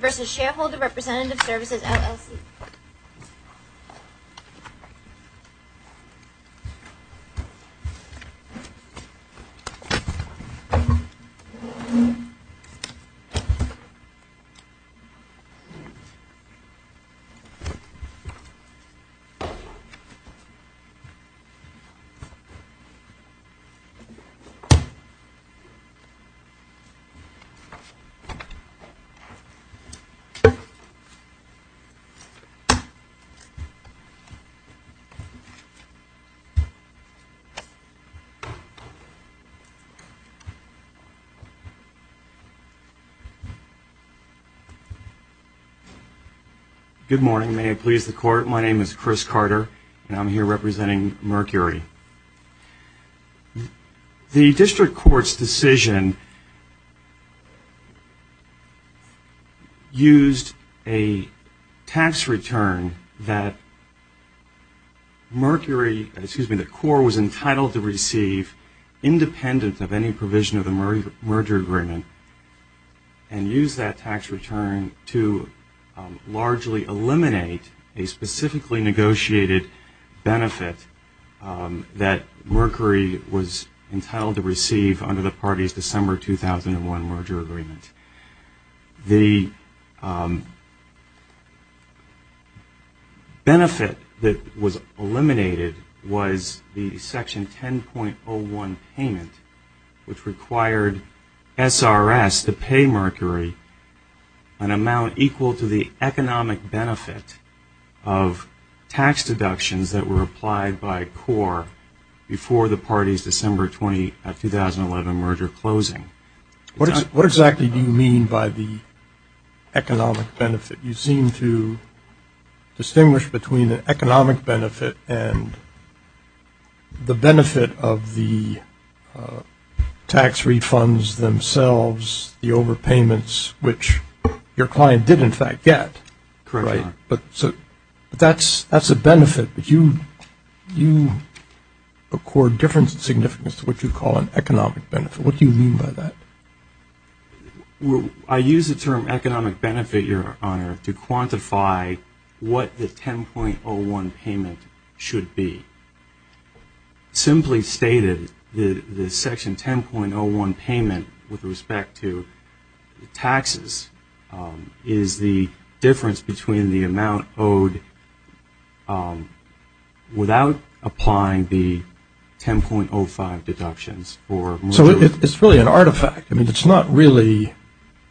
Services, LLC. Good morning. May it please the Court, my name is Chris Carter and I'm here representing Mercury. The District Court's decision used a tax return that the Corps was entitled to receive independent of any provision of the merger agreement and used that tax return to largely eliminate a specifically negotiated benefit that Mercury was entitled to receive under the party's December 2001 merger agreement. The benefit that was eliminated was the Section 10.01 payment, which required SRS to pay Mercury an amount equal to the economic benefit of tax deductions that were applied by Corps before the party's December 2011 merger closing. What exactly do you mean by the economic benefit? You seem to distinguish between an economic benefit and the benefit of the tax refunds themselves, the overpayments, which your client did in fact get. Correct, Your Honor. But that's a benefit, but you accord different significance to what you call an economic benefit. What do you mean by that? I use the term economic benefit, Your Honor, to quantify what the 10.01 payment should be. Simply stated, the Section 10.01 payment with respect to taxes is the difference between the amount owed without applying the 10.05 deductions. So it's really an artifact. I mean, it's not really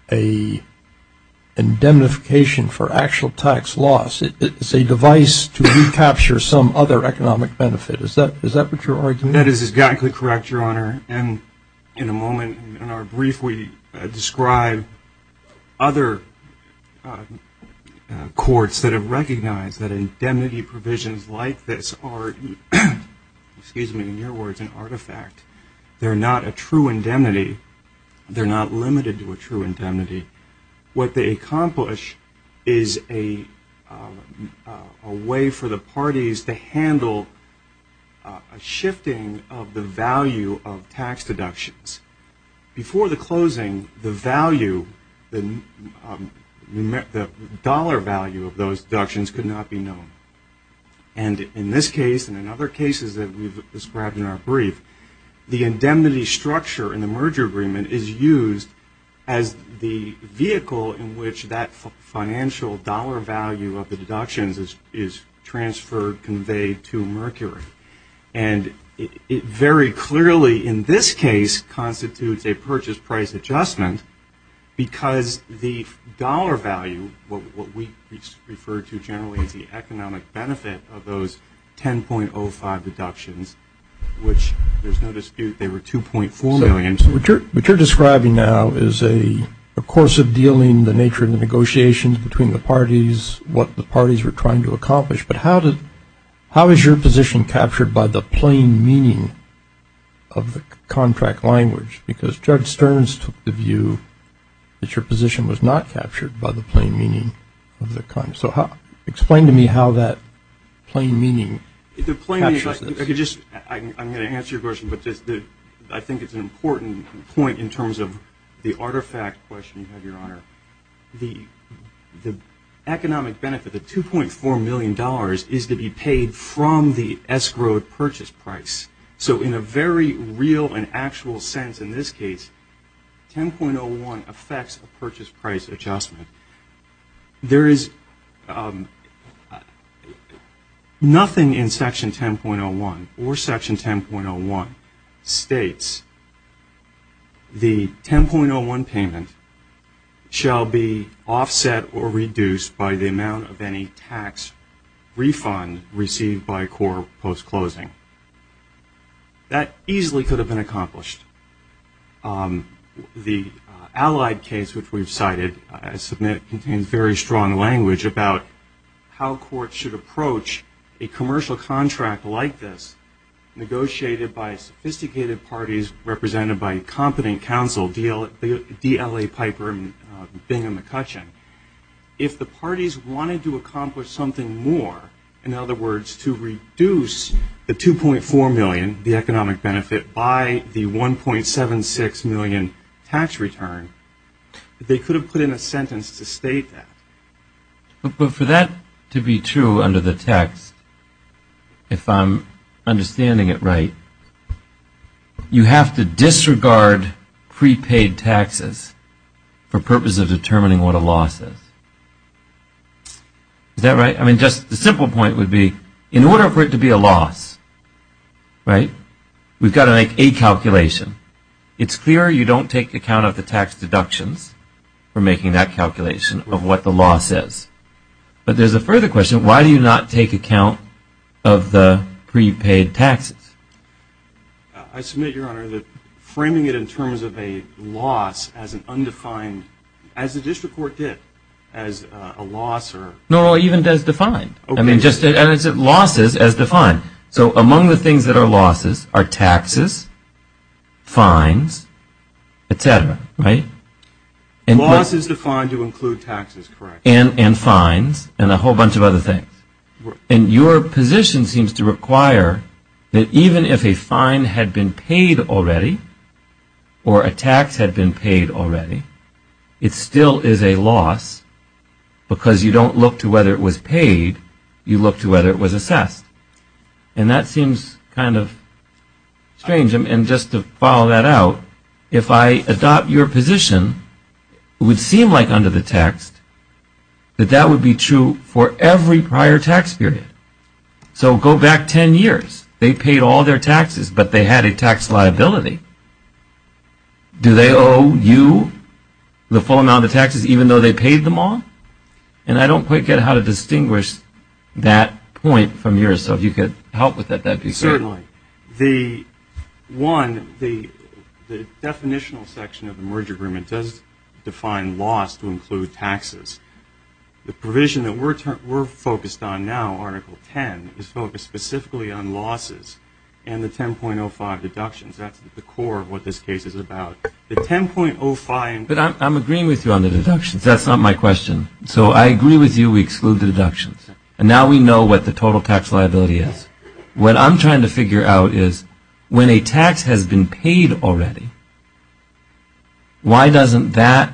an indemnification for actual tax loss. It's a device to recapture some other economic benefit. Is that what you're arguing? That is exactly correct, Your Honor. In a moment in our brief, we describe other courts that have recognized that indemnity provisions like this are, excuse me, in your words, an artifact. They're not a true indemnity. They're not limited to a true indemnity. What they accomplish is a way for the parties to handle a shifting of the value of tax deductions. Before the closing, the value, the dollar value of those deductions could not be known. And in this case and in other cases that we've described in our brief, the indemnity structure in the merger agreement is used as the vehicle in which that financial dollar value of the deductions is transferred, conveyed to Mercury. And it very clearly in this case constitutes a purchase price adjustment because the dollar value, what we refer to generally as the economic benefit of those 10.05 deductions, which there's no dispute they were 2.4 million. What you're describing now is a course of dealing, the nature of the negotiations between the parties, what the parties were trying to accomplish. But how is your position captured by the plain meaning of the contract language? Because Judge Stearns took the view that your position was not captured by the plain meaning of the contract. So explain to me how that plain meaning captures this. I'm going to answer your question, but I think it's an important point in terms of the artifact question you had, Your Honor. The economic benefit, the $2.4 million is to be paid from the escrowed purchase price. So in a very real and actual sense in this case, 10.01 affects a purchase price adjustment. There is nothing in Section 10.01 or Section 10.01 states the 10.01 payment shall be offset or reduced by the amount of any tax refund received by CORE post-closing. That easily could have been accomplished. The allied case, which we've cited, I submit contains very strong language about how courts should approach a commercial contract like this, negotiated by the parties. If the parties wanted to accomplish something more, in other words, to reduce the $2.4 million, the economic benefit, by the $1.76 million tax return, they could have put in a sentence to state that. But for that to be true under the text, if I'm understanding it right, you have to disregard prepaid taxes for purposes of determining what a loss is. Is that right? I mean, just the simple point would be, in order for it to be a loss, right, we've got to make a calculation. It's clear you don't take account of the tax deductions for making that I submit, Your Honor, that framing it in terms of a loss as an undefined, as the district court did, as a loss or... No, even as defined. I mean, just losses as defined. So among the things that are losses are taxes, fines, et cetera, right? Losses defined to include taxes, correct. And fines, and a whole bunch of other things. And your position seems to require that even if a fine had been paid already, or a tax had been paid already, it still is a loss because you don't look to whether it was paid, you look to whether it was assessed. And that seems kind of strange. And just to follow that out, if I adopt your position, it would seem like under the text that that would be true for every prior tax period. So go back 10 years. They paid all their taxes, but they had a tax liability. Do they owe you the full amount of taxes even though they paid them all? And I don't quite get how to distinguish that point from yours. So if you could help with that, that'd be great. Certainly. One, the definitional section of the merger agreement does define loss to include taxes. The provision that we're focused on now, Article 10, is focused specifically on losses and the 10.05 deductions. That's the core of what this case is about. The 10.05... But I'm agreeing with you on the deductions. That's not my question. So I agree with you we exclude the deductions. And now we know what the total tax liability is. What I'm trying to figure out is when a tax has been paid already, why doesn't that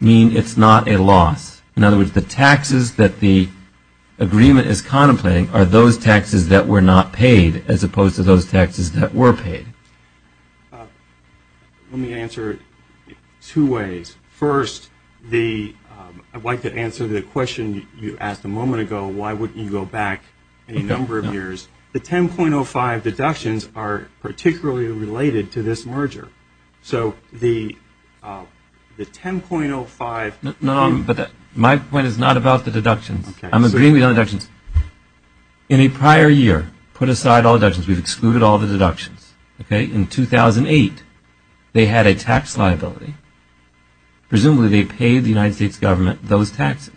mean it's not a loss? In other words, the taxes that the agreement is contemplating are those taxes that were not paid as opposed to those taxes that were paid. Let me answer it two ways. First, I'd like to answer the question you asked a moment ago, why wouldn't you go back a number of years? The 10.05 deductions are particularly related to this merger. So the 10.05... My point is not about the deductions. I'm agreeing with you on the deductions. In a prior year, put aside all deductions. We've excluded all the deductions. Okay? In 2008, they had a tax liability. Presumably they paid the United States government those taxes.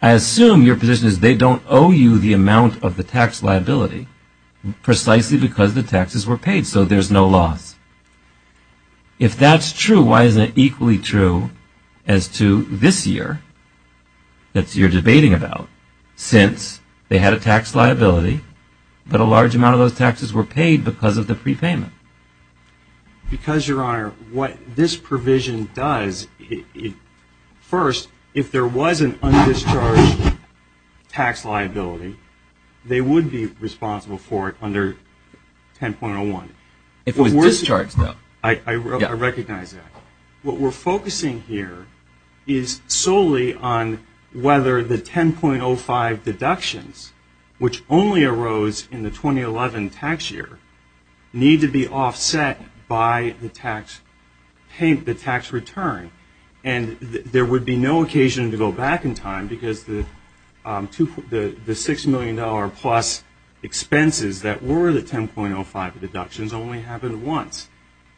I assume your position is they don't owe you the amount of the tax liability precisely because the taxes were paid so there's no loss. If that's true, why isn't it equally true as to this year that you're debating about since they had a tax liability but a large amount of those taxes were paid because of the prepayment? Because, Your Honor, what this provision does, first, if there was an undischarged tax liability, they would be responsible for it 10.01. If it was discharged, though. I recognize that. What we're focusing here is solely on whether the 10.05 deductions, which only arose in the 2011 tax year, need to be offset by the tax return. And there would be no occasion to go back in time because the $6 million plus expenses that were the 10.05 deductions only happened once.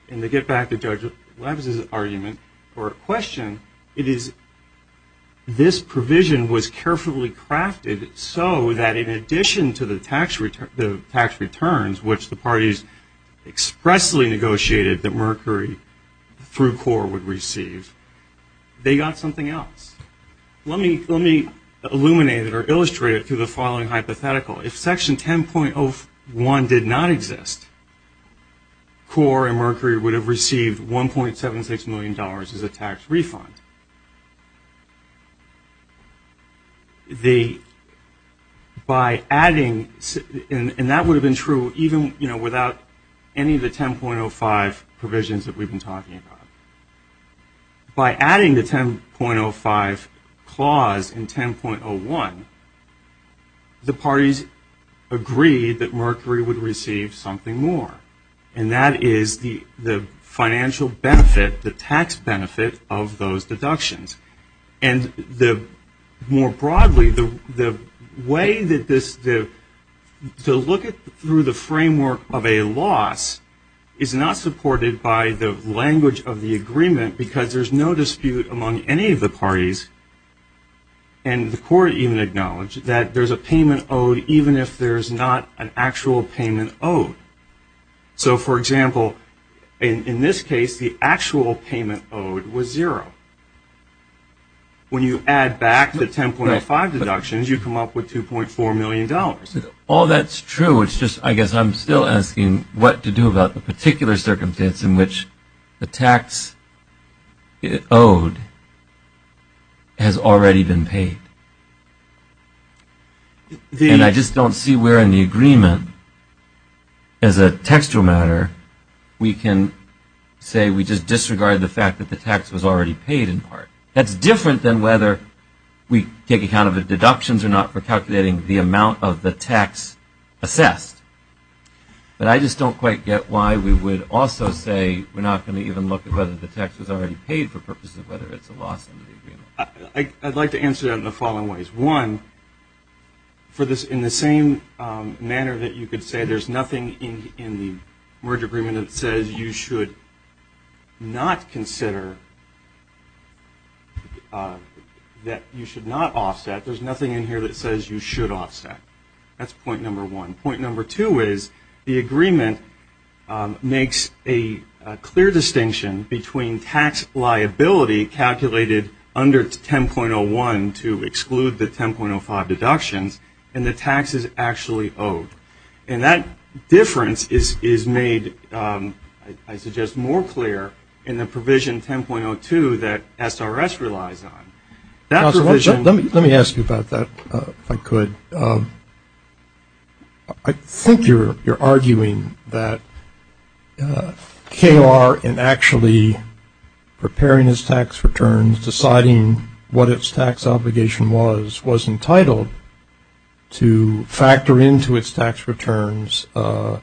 And to get back to Judge Lebs' argument or question, it is this provision was carefully crafted so that in addition to the tax returns, which the parties expressly negotiated that Mercury through CORE would receive, they got something else. Let me illuminate it or illustrate it through the following hypothetical. If Section 10.01 did not exist, CORE and Mercury would have received $1.76 million as a tax refund. And that would have been true even without any of the 10.05 provisions that we've been talking about. By adding the 10.05 clause in 10.01, the parties agreed that Mercury would receive something more. And that is the financial benefit, the tax work of a loss is not supported by the language of the agreement because there's no dispute among any of the parties. And the CORE even acknowledged that there's a payment owed even if there's not an actual payment owed. So, for example, in this case, the actual payment owed was zero. When you add back the All that's true. It's just I guess I'm still asking what to do about the particular circumstance in which the tax owed has already been paid. And I just don't see where in the agreement as a textual matter we can say we just disregard the fact that the tax was already paid in part. That's different than whether we take account of the deductions or not for calculating the amount of the tax assessed. But I just don't quite get why we would also say we're not going to even look at whether the tax was already paid for purposes of whether it's a loss in the agreement. I'd like to answer that in the following ways. One, in the same manner that you could say there's nothing in the merge agreement that says you should not consider that you should not offset, there's nothing in here that says you should offset. That's point number one. Point number two is the agreement makes a clear distinction between tax liability calculated under 10.01 to exclude the 10.05 deductions and the taxes actually owed. And that makes it just more clear in the provision 10.02 that SRS relies on. Let me ask you about that if I could. I think you're arguing that KOR in actually preparing its tax returns, deciding what its tax obligation was, was entitled to factor into its tax returns all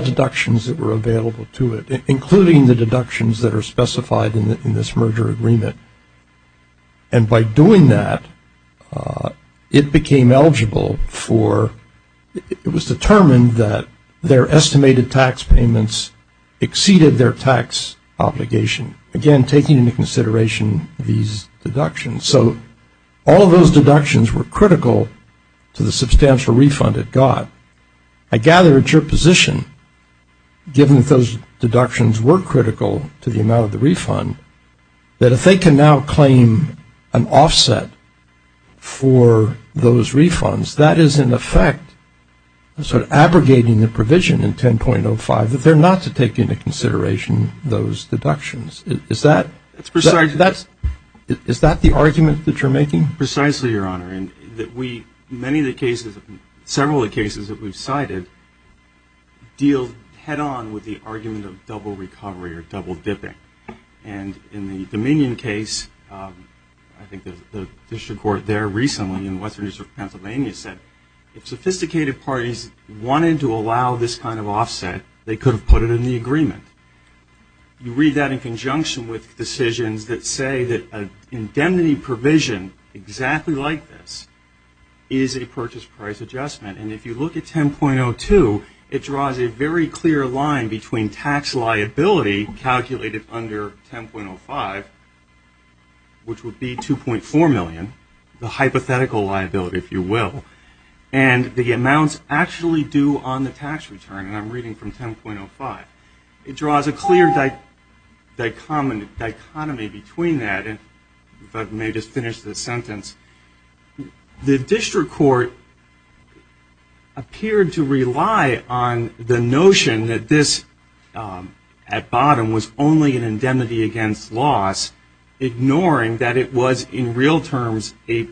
deductions that were available to it, including the deductions that are specified in this merger agreement. And by doing that, it became eligible for, it was determined that their estimated tax payments exceeded their tax obligation. Again, taking into consideration these deductions. So all of those deductions were critical to the substantial refund it got. I gather it's your position, given that those deductions were critical to the amount of the refund, that if they can now claim an offset for those Is that the argument that you're making? Precisely, Your Honor. Many of the cases, several of the cases that we've cited deal head-on with the argument of double recovery or double dipping. And in the Dominion case, I think the district court there recently in the Western District of Pennsylvania said, if sophisticated parties wanted to allow this kind of offset, they could have put it in the agreement. You read that in conjunction with decisions that say that an indemnity provision exactly like this is a purchase price adjustment. And if you look at 10.02, it draws a very clear line between tax liability calculated under 10.05, which would be 2.4 million, the hypothetical liability, if you will, and the amounts actually due on the tax return, and I'm reading from 10.05. It draws a clear dichotomy between that, and if I may just finish this sentence. The district court appeared to rely on the notion that this at bottom was only an indemnity against loss, ignoring that it was in real terms a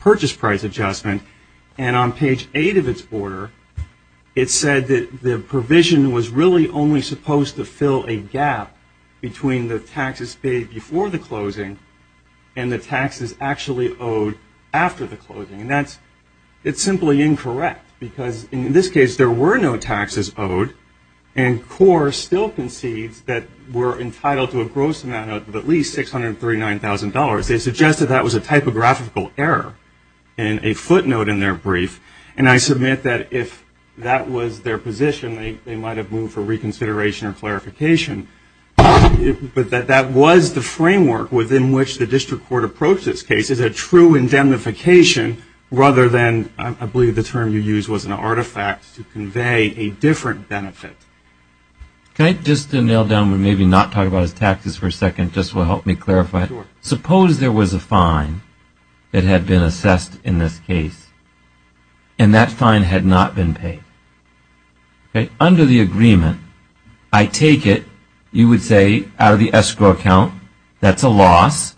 purchase price adjustment. And on page 8 of its order, it said that the provision was really only supposed to fill a gap between the taxes paid before the closing and the taxes actually owed after the closing. It's simply incorrect, because in this case there were no taxes owed, and CORE still concedes that we're entitled to a gross amount of at least $639,000. They suggested that was a typographical error in a footnote in their brief, and I submit that if that was their position, they might have moved for reconsideration or clarification. But that was the framework within which the district court approached this case as a true indemnification rather than, I believe, the term you used was an artifact to convey a different benefit. Can I just nail down and maybe not talk about his taxes for a second just to help me clarify? Sure. Suppose there was a fine that had been assessed in this case, and that fine had not been paid. Under the agreement, I take it you would say out of the escrow account that's a loss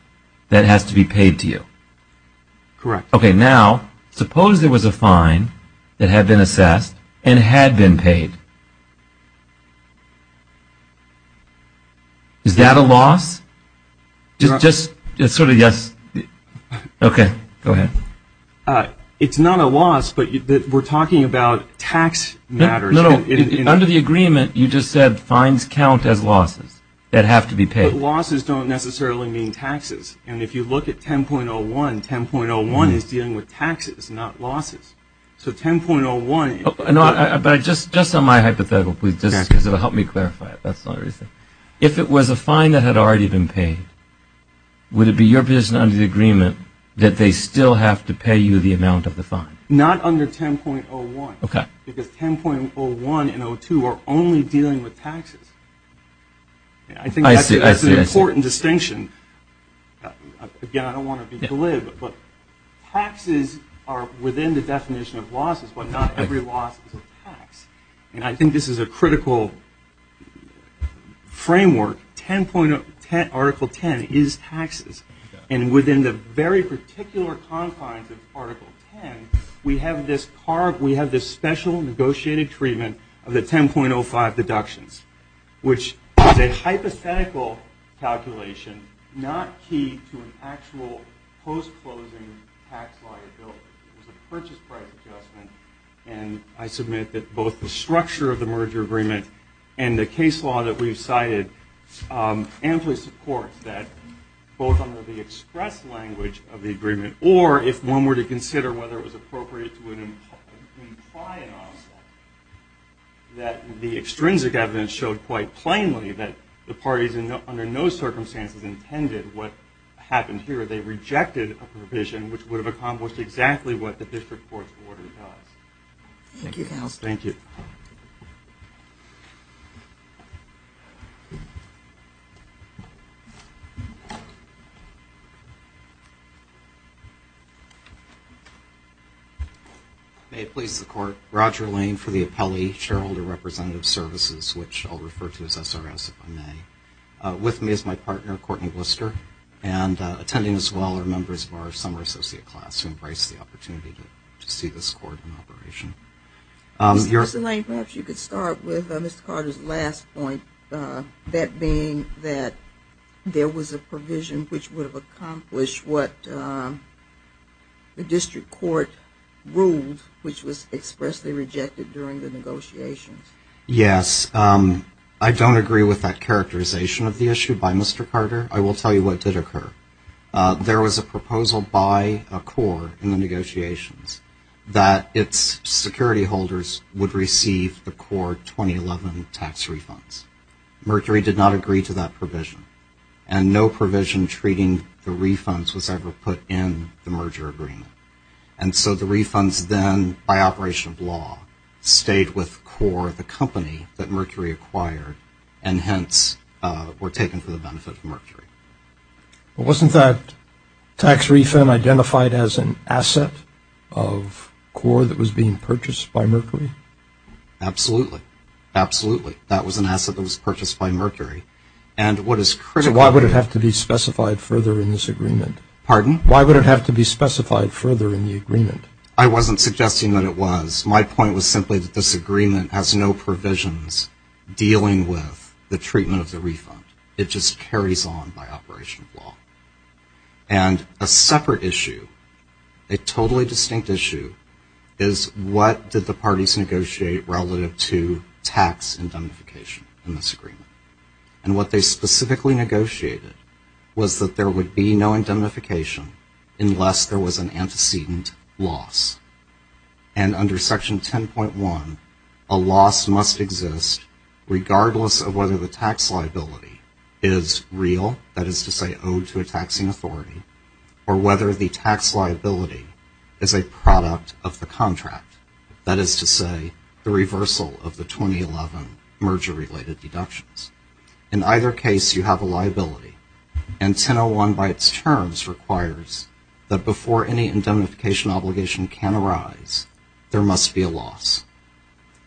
that has to be paid to you. Correct. Okay, now suppose there was a fine that had been assessed and had been paid. Is that a loss? Just sort of yes. Okay, go ahead. It's not a loss, but we're talking about tax matters. No, no. Under the agreement, you just said fines count as losses that have to be paid. But losses don't necessarily mean taxes. And if you look at 10.01, 10.01 is dealing with taxes, not losses. So 10.01. No, but just on my hypothetical, please, just because it will help me clarify it. That's the only reason. If it was a fine that had already been paid, would it be your position under the agreement that they still have to pay you the amount of the fine? Not under 10.01. Okay. Because 10.01 and 02 are only dealing with taxes. I see, I see. I think that's an important distinction. Again, I don't want to be glib, but taxes are within the definition of losses, but not every loss is a tax. And I think this is a critical framework. Article 10 is taxes. And within the very particular confines of Article 10, we have this special negotiated treatment of the 10.05 deductions, which is a hypothetical calculation not key to an actual post-closing tax liability. It was a purchase price adjustment. And I submit that both the structure of the merger agreement and the case law that we've cited amply supports that both under the express language of the agreement, or if one were to consider whether it was appropriate to imply an offset, that the extrinsic evidence showed quite plainly that the parties under no circumstances intended what happened here. They rejected a provision which would have accomplished exactly what the district court's order does. Thank you. Thank you. May it please the Court, Roger Lane for the Appellee Shareholder Representative Services, which I'll refer to as SRS if I may. With me is my partner, Courtney Wister, and attending as well are members of our summer associate class who embrace the opportunity to see this court in operation. Mr. Lane, perhaps you could start with Mr. Carter's last point, that being that there was a provision which would have accomplished what the district court ruled, which was expressly rejected during the negotiations. Yes. I don't agree with that characterization of the issue by Mr. Carter. I will tell you what did occur. There was a proposal by a court in the negotiations that its security holders would receive the court 2011 tax refunds. Mercury did not agree to that provision, and no provision treating the refunds was ever put in the merger agreement. And so the refunds then, by operation of law, stayed with CORE, the company that Mercury acquired, and hence were taken for the benefit of Mercury. Wasn't that tax refund identified as an asset of CORE that was being purchased by Mercury? Absolutely. Absolutely. That was an asset that was purchased by Mercury. And what is critical to... So why would it have to be specified further in this agreement? Pardon? Why would it have to be specified further in the agreement? I wasn't suggesting that it was. My point was simply that this agreement has no provisions dealing with the treatment of the refund. It just carries on by operation of law. And a separate issue, a totally distinct issue, is what did the parties negotiate relative to tax indemnification in this agreement? And what they specifically negotiated was that there would be no indemnification unless there was an antecedent loss. And under Section 10.1, a loss must exist regardless of whether the tax liability is real, that is to say owed to a taxing authority, or whether the tax liability is a product of the contract, that is to say the reversal of the 2011 merger-related deductions. In either case, you have a liability. And 10.01 by its terms requires that before any indemnification obligation can arise, there must be a loss.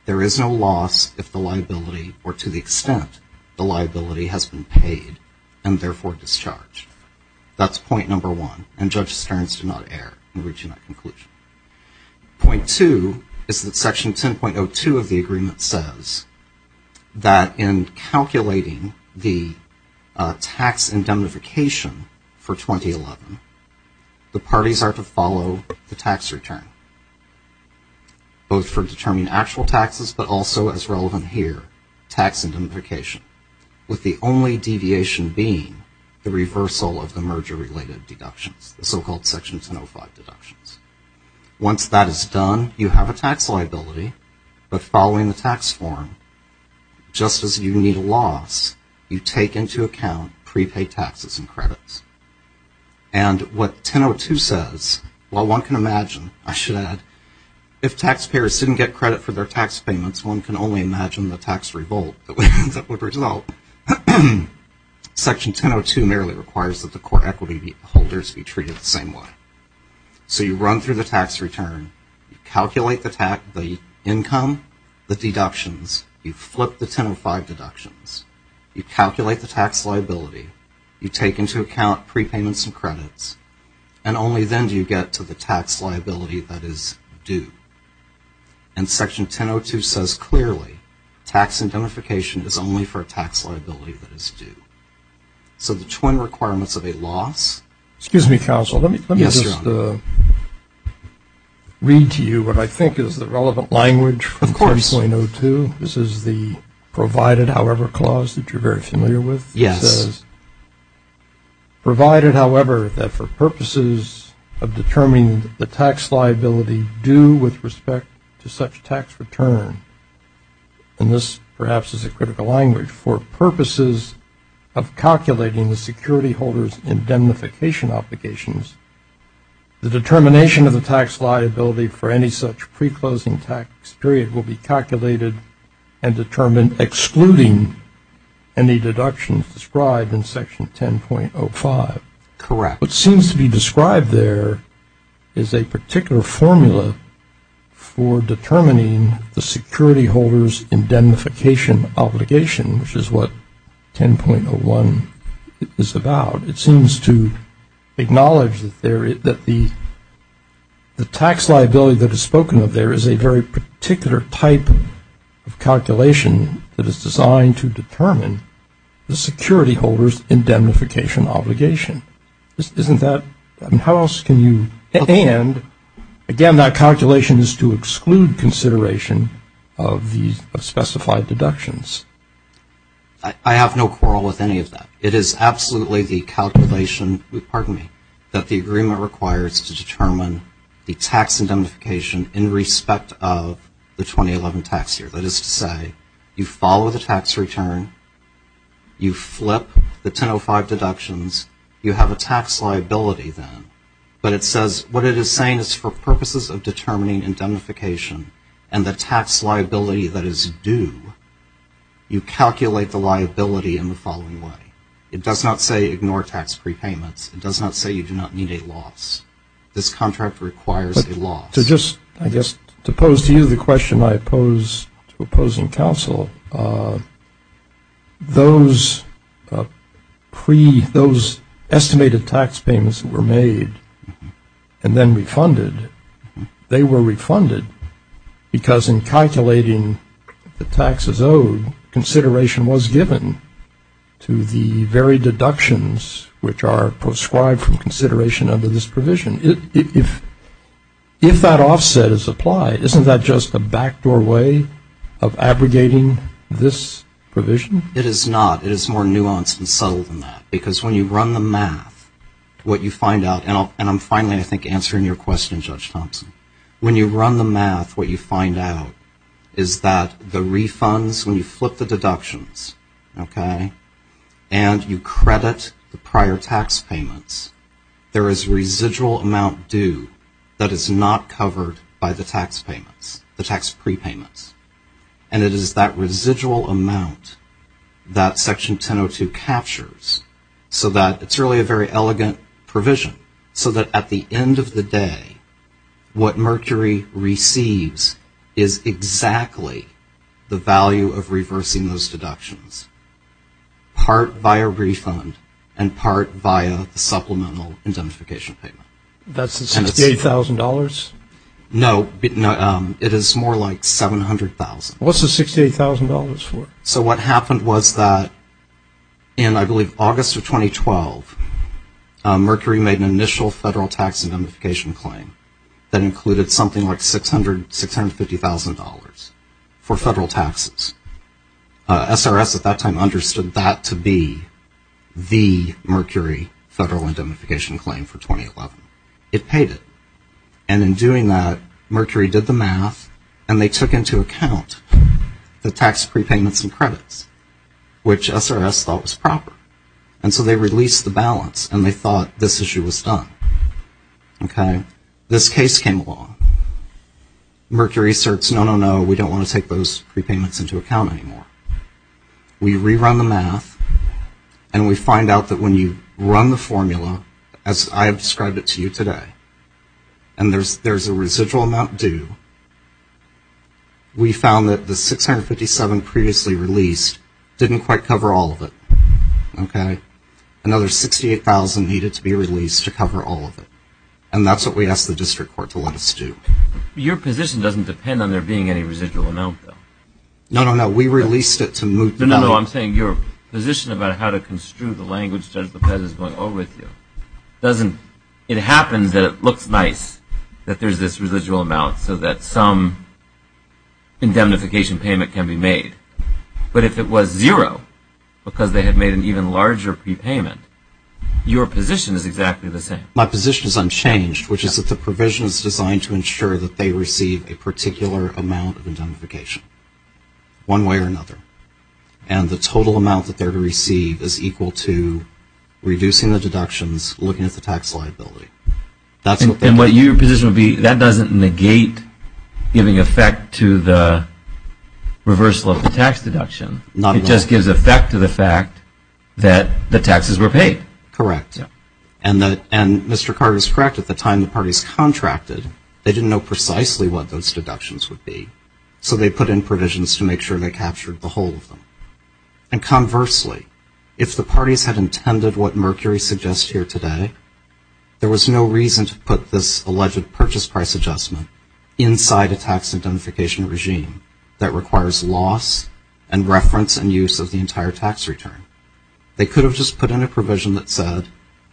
There is no loss if the liability or to the extent the liability has been paid and therefore discharged. That's point number one. And Judge Stearns did not err in reaching that conclusion. Point two is that Section 10.02 of the agreement says that in calculating the tax indemnification for 2011, the parties are to follow the tax return, both for determining actual taxes, but also as relevant here, tax indemnification, with the only deviation being the reversal of the merger-related deductions, the so-called Section 10.05 deductions. Once that is done, you have a tax liability. But following the tax form, just as you need a loss, you take into account prepaid taxes and credits. And what 10.02 says, while one can imagine, I should add, if taxpayers didn't get credit for their tax payments, one can only imagine the tax revolt that would result. Section 10.02 merely requires that the core equity holders be treated the same way. So you run through the tax return. You calculate the income, the deductions. You flip the 10.05 deductions. You calculate the tax liability. You take into account prepayments and credits. And only then do you get to the tax liability that is due. And Section 10.02 says clearly tax indemnification is only for a tax liability that is due. So the twin requirements of a loss. Excuse me, counsel. Yes, Your Honor. Let me just read to you what I think is the relevant language for 10.02. Of course. This is the provided however clause that you're very familiar with. Yes. Provided, however, that for purposes of determining the tax liability due with respect to such tax return, and this perhaps is a critical language, for purposes of calculating the security holders indemnification obligations, the determination of the tax liability for any such pre-closing tax period will be calculated and determined excluding any deductions described in Section 10.05. Correct. What seems to be described there is a particular formula for determining the security holders indemnification obligation, which is what 10.01 is about. It seems to acknowledge that the tax liability that is spoken of there is a very particular type of calculation that is designed to determine the security holders indemnification obligation. Isn't that – how else can you – and, again, that calculation is to exclude consideration of specified deductions. I have no quarrel with any of that. It is absolutely the calculation – pardon me – that the agreement requires to determine the tax indemnification in respect of the 2011 tax year. That is to say, you follow the tax return, you flip the 10.05 deductions, you have a tax liability then. But it says what it is saying is for purposes of determining indemnification and the tax liability that is due, you calculate the liability in the following way. It does not say ignore tax prepayments. It does not say you do not need a loss. This contract requires a loss. To just, I guess, to pose to you the question I pose to opposing counsel, those estimated tax payments that were made and then refunded, they were refunded because in calculating the taxes owed, consideration was given to the very deductions which are prescribed from consideration under this provision. If that offset is applied, isn't that just a backdoor way of abrogating this provision? It is not. It is more nuanced and subtle than that because when you run the math, what you find out – and I'm finally, I think, answering your question, Judge Thompson. When you run the math, what you find out is that the refunds, when you flip the deductions, okay, and you credit the prior tax payments, there is residual amount due that is not covered by the tax prepayments. And it is that residual amount that Section 1002 captures so that it's really a very elegant provision. So that at the end of the day, what Mercury receives is exactly the value of reversing those deductions, part by a refund and part by a supplemental identification payment. That's $68,000? No, it is more like $700,000. What's the $68,000 for? So what happened was that in, I believe, August of 2012, Mercury made an initial federal tax indemnification claim that included something like $650,000 for federal taxes. SRS at that time understood that to be the Mercury federal indemnification claim for 2011. It paid it. And in doing that, Mercury did the math, and they took into account the tax prepayments and credits, which SRS thought was proper. And so they released the balance, and they thought this issue was done, okay? This case came along. Mercury asserts, no, no, no, we don't want to take those prepayments into account anymore. We rerun the math, and we find out that when you run the formula, as I have described it to you today, and there's a residual amount due, we found that the $657,000 previously released didn't quite cover all of it, okay? Another $68,000 needed to be released to cover all of it. And that's what we asked the district court to let us do. Your position doesn't depend on there being any residual amount, though. No, no, no, we released it to move the balance. No, no, no, I'm saying your position about how to construe the language, Judge Lopez, is going over with you. It happens that it looks nice that there's this residual amount so that some indemnification payment can be made. But if it was zero, because they had made an even larger prepayment, your position is exactly the same. My position is unchanged, which is that the provision is designed to ensure that they receive a particular amount of indemnification, one way or another. And the total amount that they receive is equal to reducing the deductions, looking at the tax liability. And what your position would be, that doesn't negate giving effect to the reversal of the tax deduction. It just gives effect to the fact that the taxes were paid. Correct. And Mr. Carter is correct. At the time the parties contracted, they didn't know precisely what those deductions would be, so they put in provisions to make sure they captured the whole of them. And conversely, if the parties had intended what Mercury suggests here today, there was no reason to put this alleged purchase price adjustment inside a tax indemnification regime that requires loss and reference and use of the entire tax return. They could have just put in a provision that said,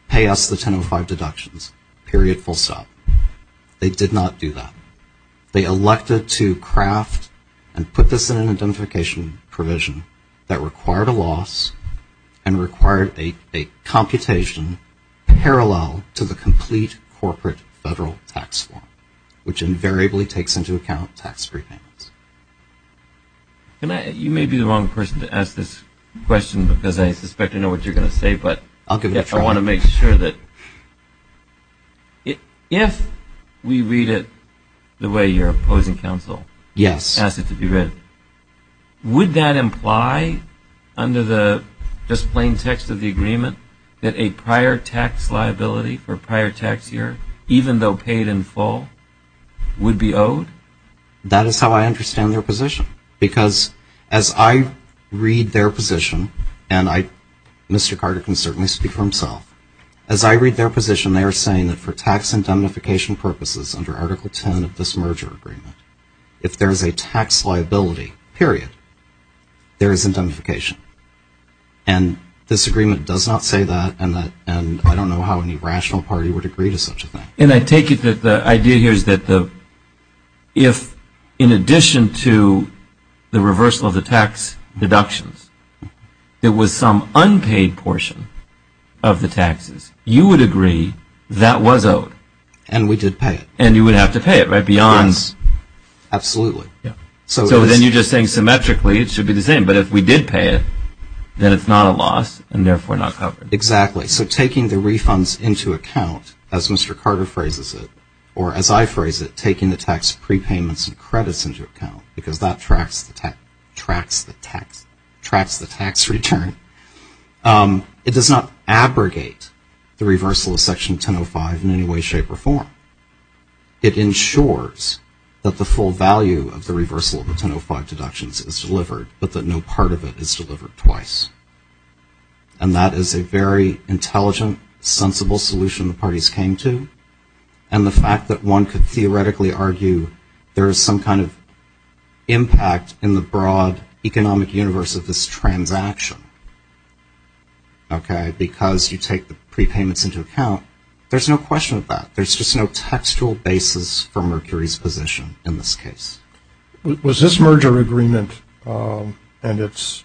pay us the 1005 deductions, period, full stop. They did not do that. They elected to craft and put this in an indemnification provision that required a loss and required a computation parallel to the complete corporate federal tax form, which invariably takes into account tax prepayments. You may be the wrong person to ask this question because I suspect I know what you're going to say, but I want to make sure that if we read it the way your opposing counsel asked it to be read, would that imply under the just plain text of the agreement that a prior tax liability for a prior tax year, even though paid in full, would be owed? That is how I understand their position because as I read their position, and Mr. Carter can certainly speak for himself, as I read their position, they are saying that for tax indemnification purposes under Article 10 of this merger agreement, if there is a tax liability, period, there is indemnification. And this agreement does not say that, and I don't know how any rational party would agree to such a thing. And I take it that the idea here is that if in addition to the reversal of the tax deductions, there was some unpaid portion of the taxes, you would agree that was owed. And we did pay it. And you would have to pay it, right, beyond. Absolutely. So then you're just saying symmetrically it should be the same, but if we did pay it, then it's not a loss and therefore not covered. Exactly. So taking the refunds into account, as Mr. Carter phrases it, or as I phrase it, taking the tax prepayments and credits into account, because that tracks the tax return, it does not abrogate the reversal of Section 1005 in any way, shape, or form. It ensures that the full value of the reversal of the 1005 deductions is delivered, but that no part of it is delivered twice. And that is a very intelligent, sensible solution the parties came to. And the fact that one could theoretically argue there is some kind of impact in the broad economic universe of this transaction, okay, because you take the prepayments into account, there's no question of that. There's just no textual basis for Mercury's position in this case. Was this merger agreement and its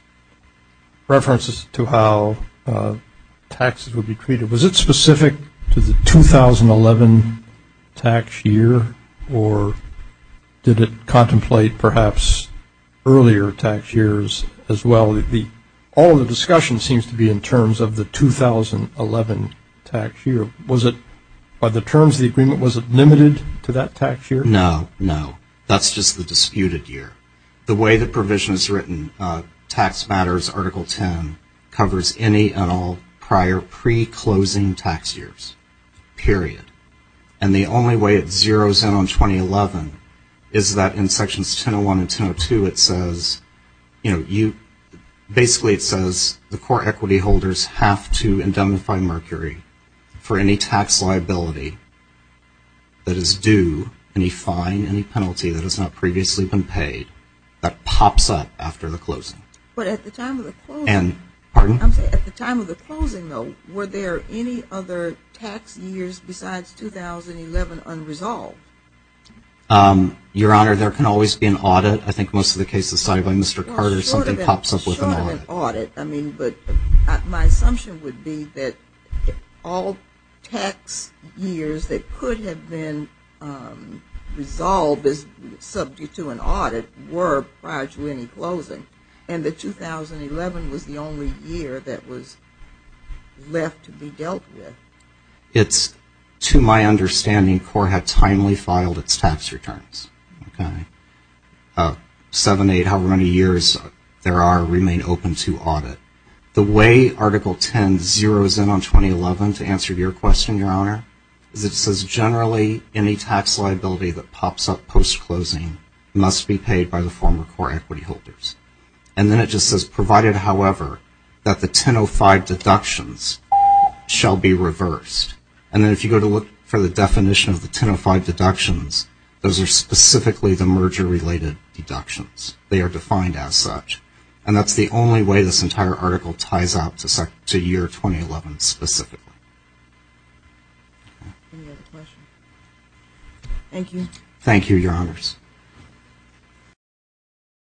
references to how taxes would be treated, was it specific to the 2011 tax year or did it contemplate perhaps earlier tax years as well? All of the discussion seems to be in terms of the 2011 tax year. By the terms of the agreement, was it limited to that tax year? No, no. That's just the disputed year. The way the provision is written, Tax Matters Article 10, covers any and all prior pre-closing tax years, period. And the only way it zeroes in on 2011 is that in Sections 101 and 102 it says, you know, basically it says the core equity holders have to indemnify Mercury for any tax liability that is due, any fine, any penalty that has not previously been paid that pops up after the closing. But at the time of the closing, though, were there any other tax years besides 2011 unresolved? Your Honor, there can always be an audit. I think most of the cases cited by Mr. Carter, something pops up with an audit. I mean, but my assumption would be that all tax years that could have been resolved as subject to an audit were prior to any closing, and that 2011 was the only year that was left to be dealt with. It's, to my understanding, CORE had timely filed its tax returns. Seven, eight, however many years there are remain open to audit. The way Article 10 zeroes in on 2011, to answer your question, Your Honor, is it says generally any tax liability that pops up post-closing must be paid by the former CORE equity holders. And then it just says provided, however, that the 1005 deductions shall be reversed. And then if you go to look for the definition of the 1005 deductions, those are specifically the merger-related deductions. They are defined as such. And that's the only way this entire article ties out to year 2011 specifically. Any other questions? Thank you. Thank you, Your Honors.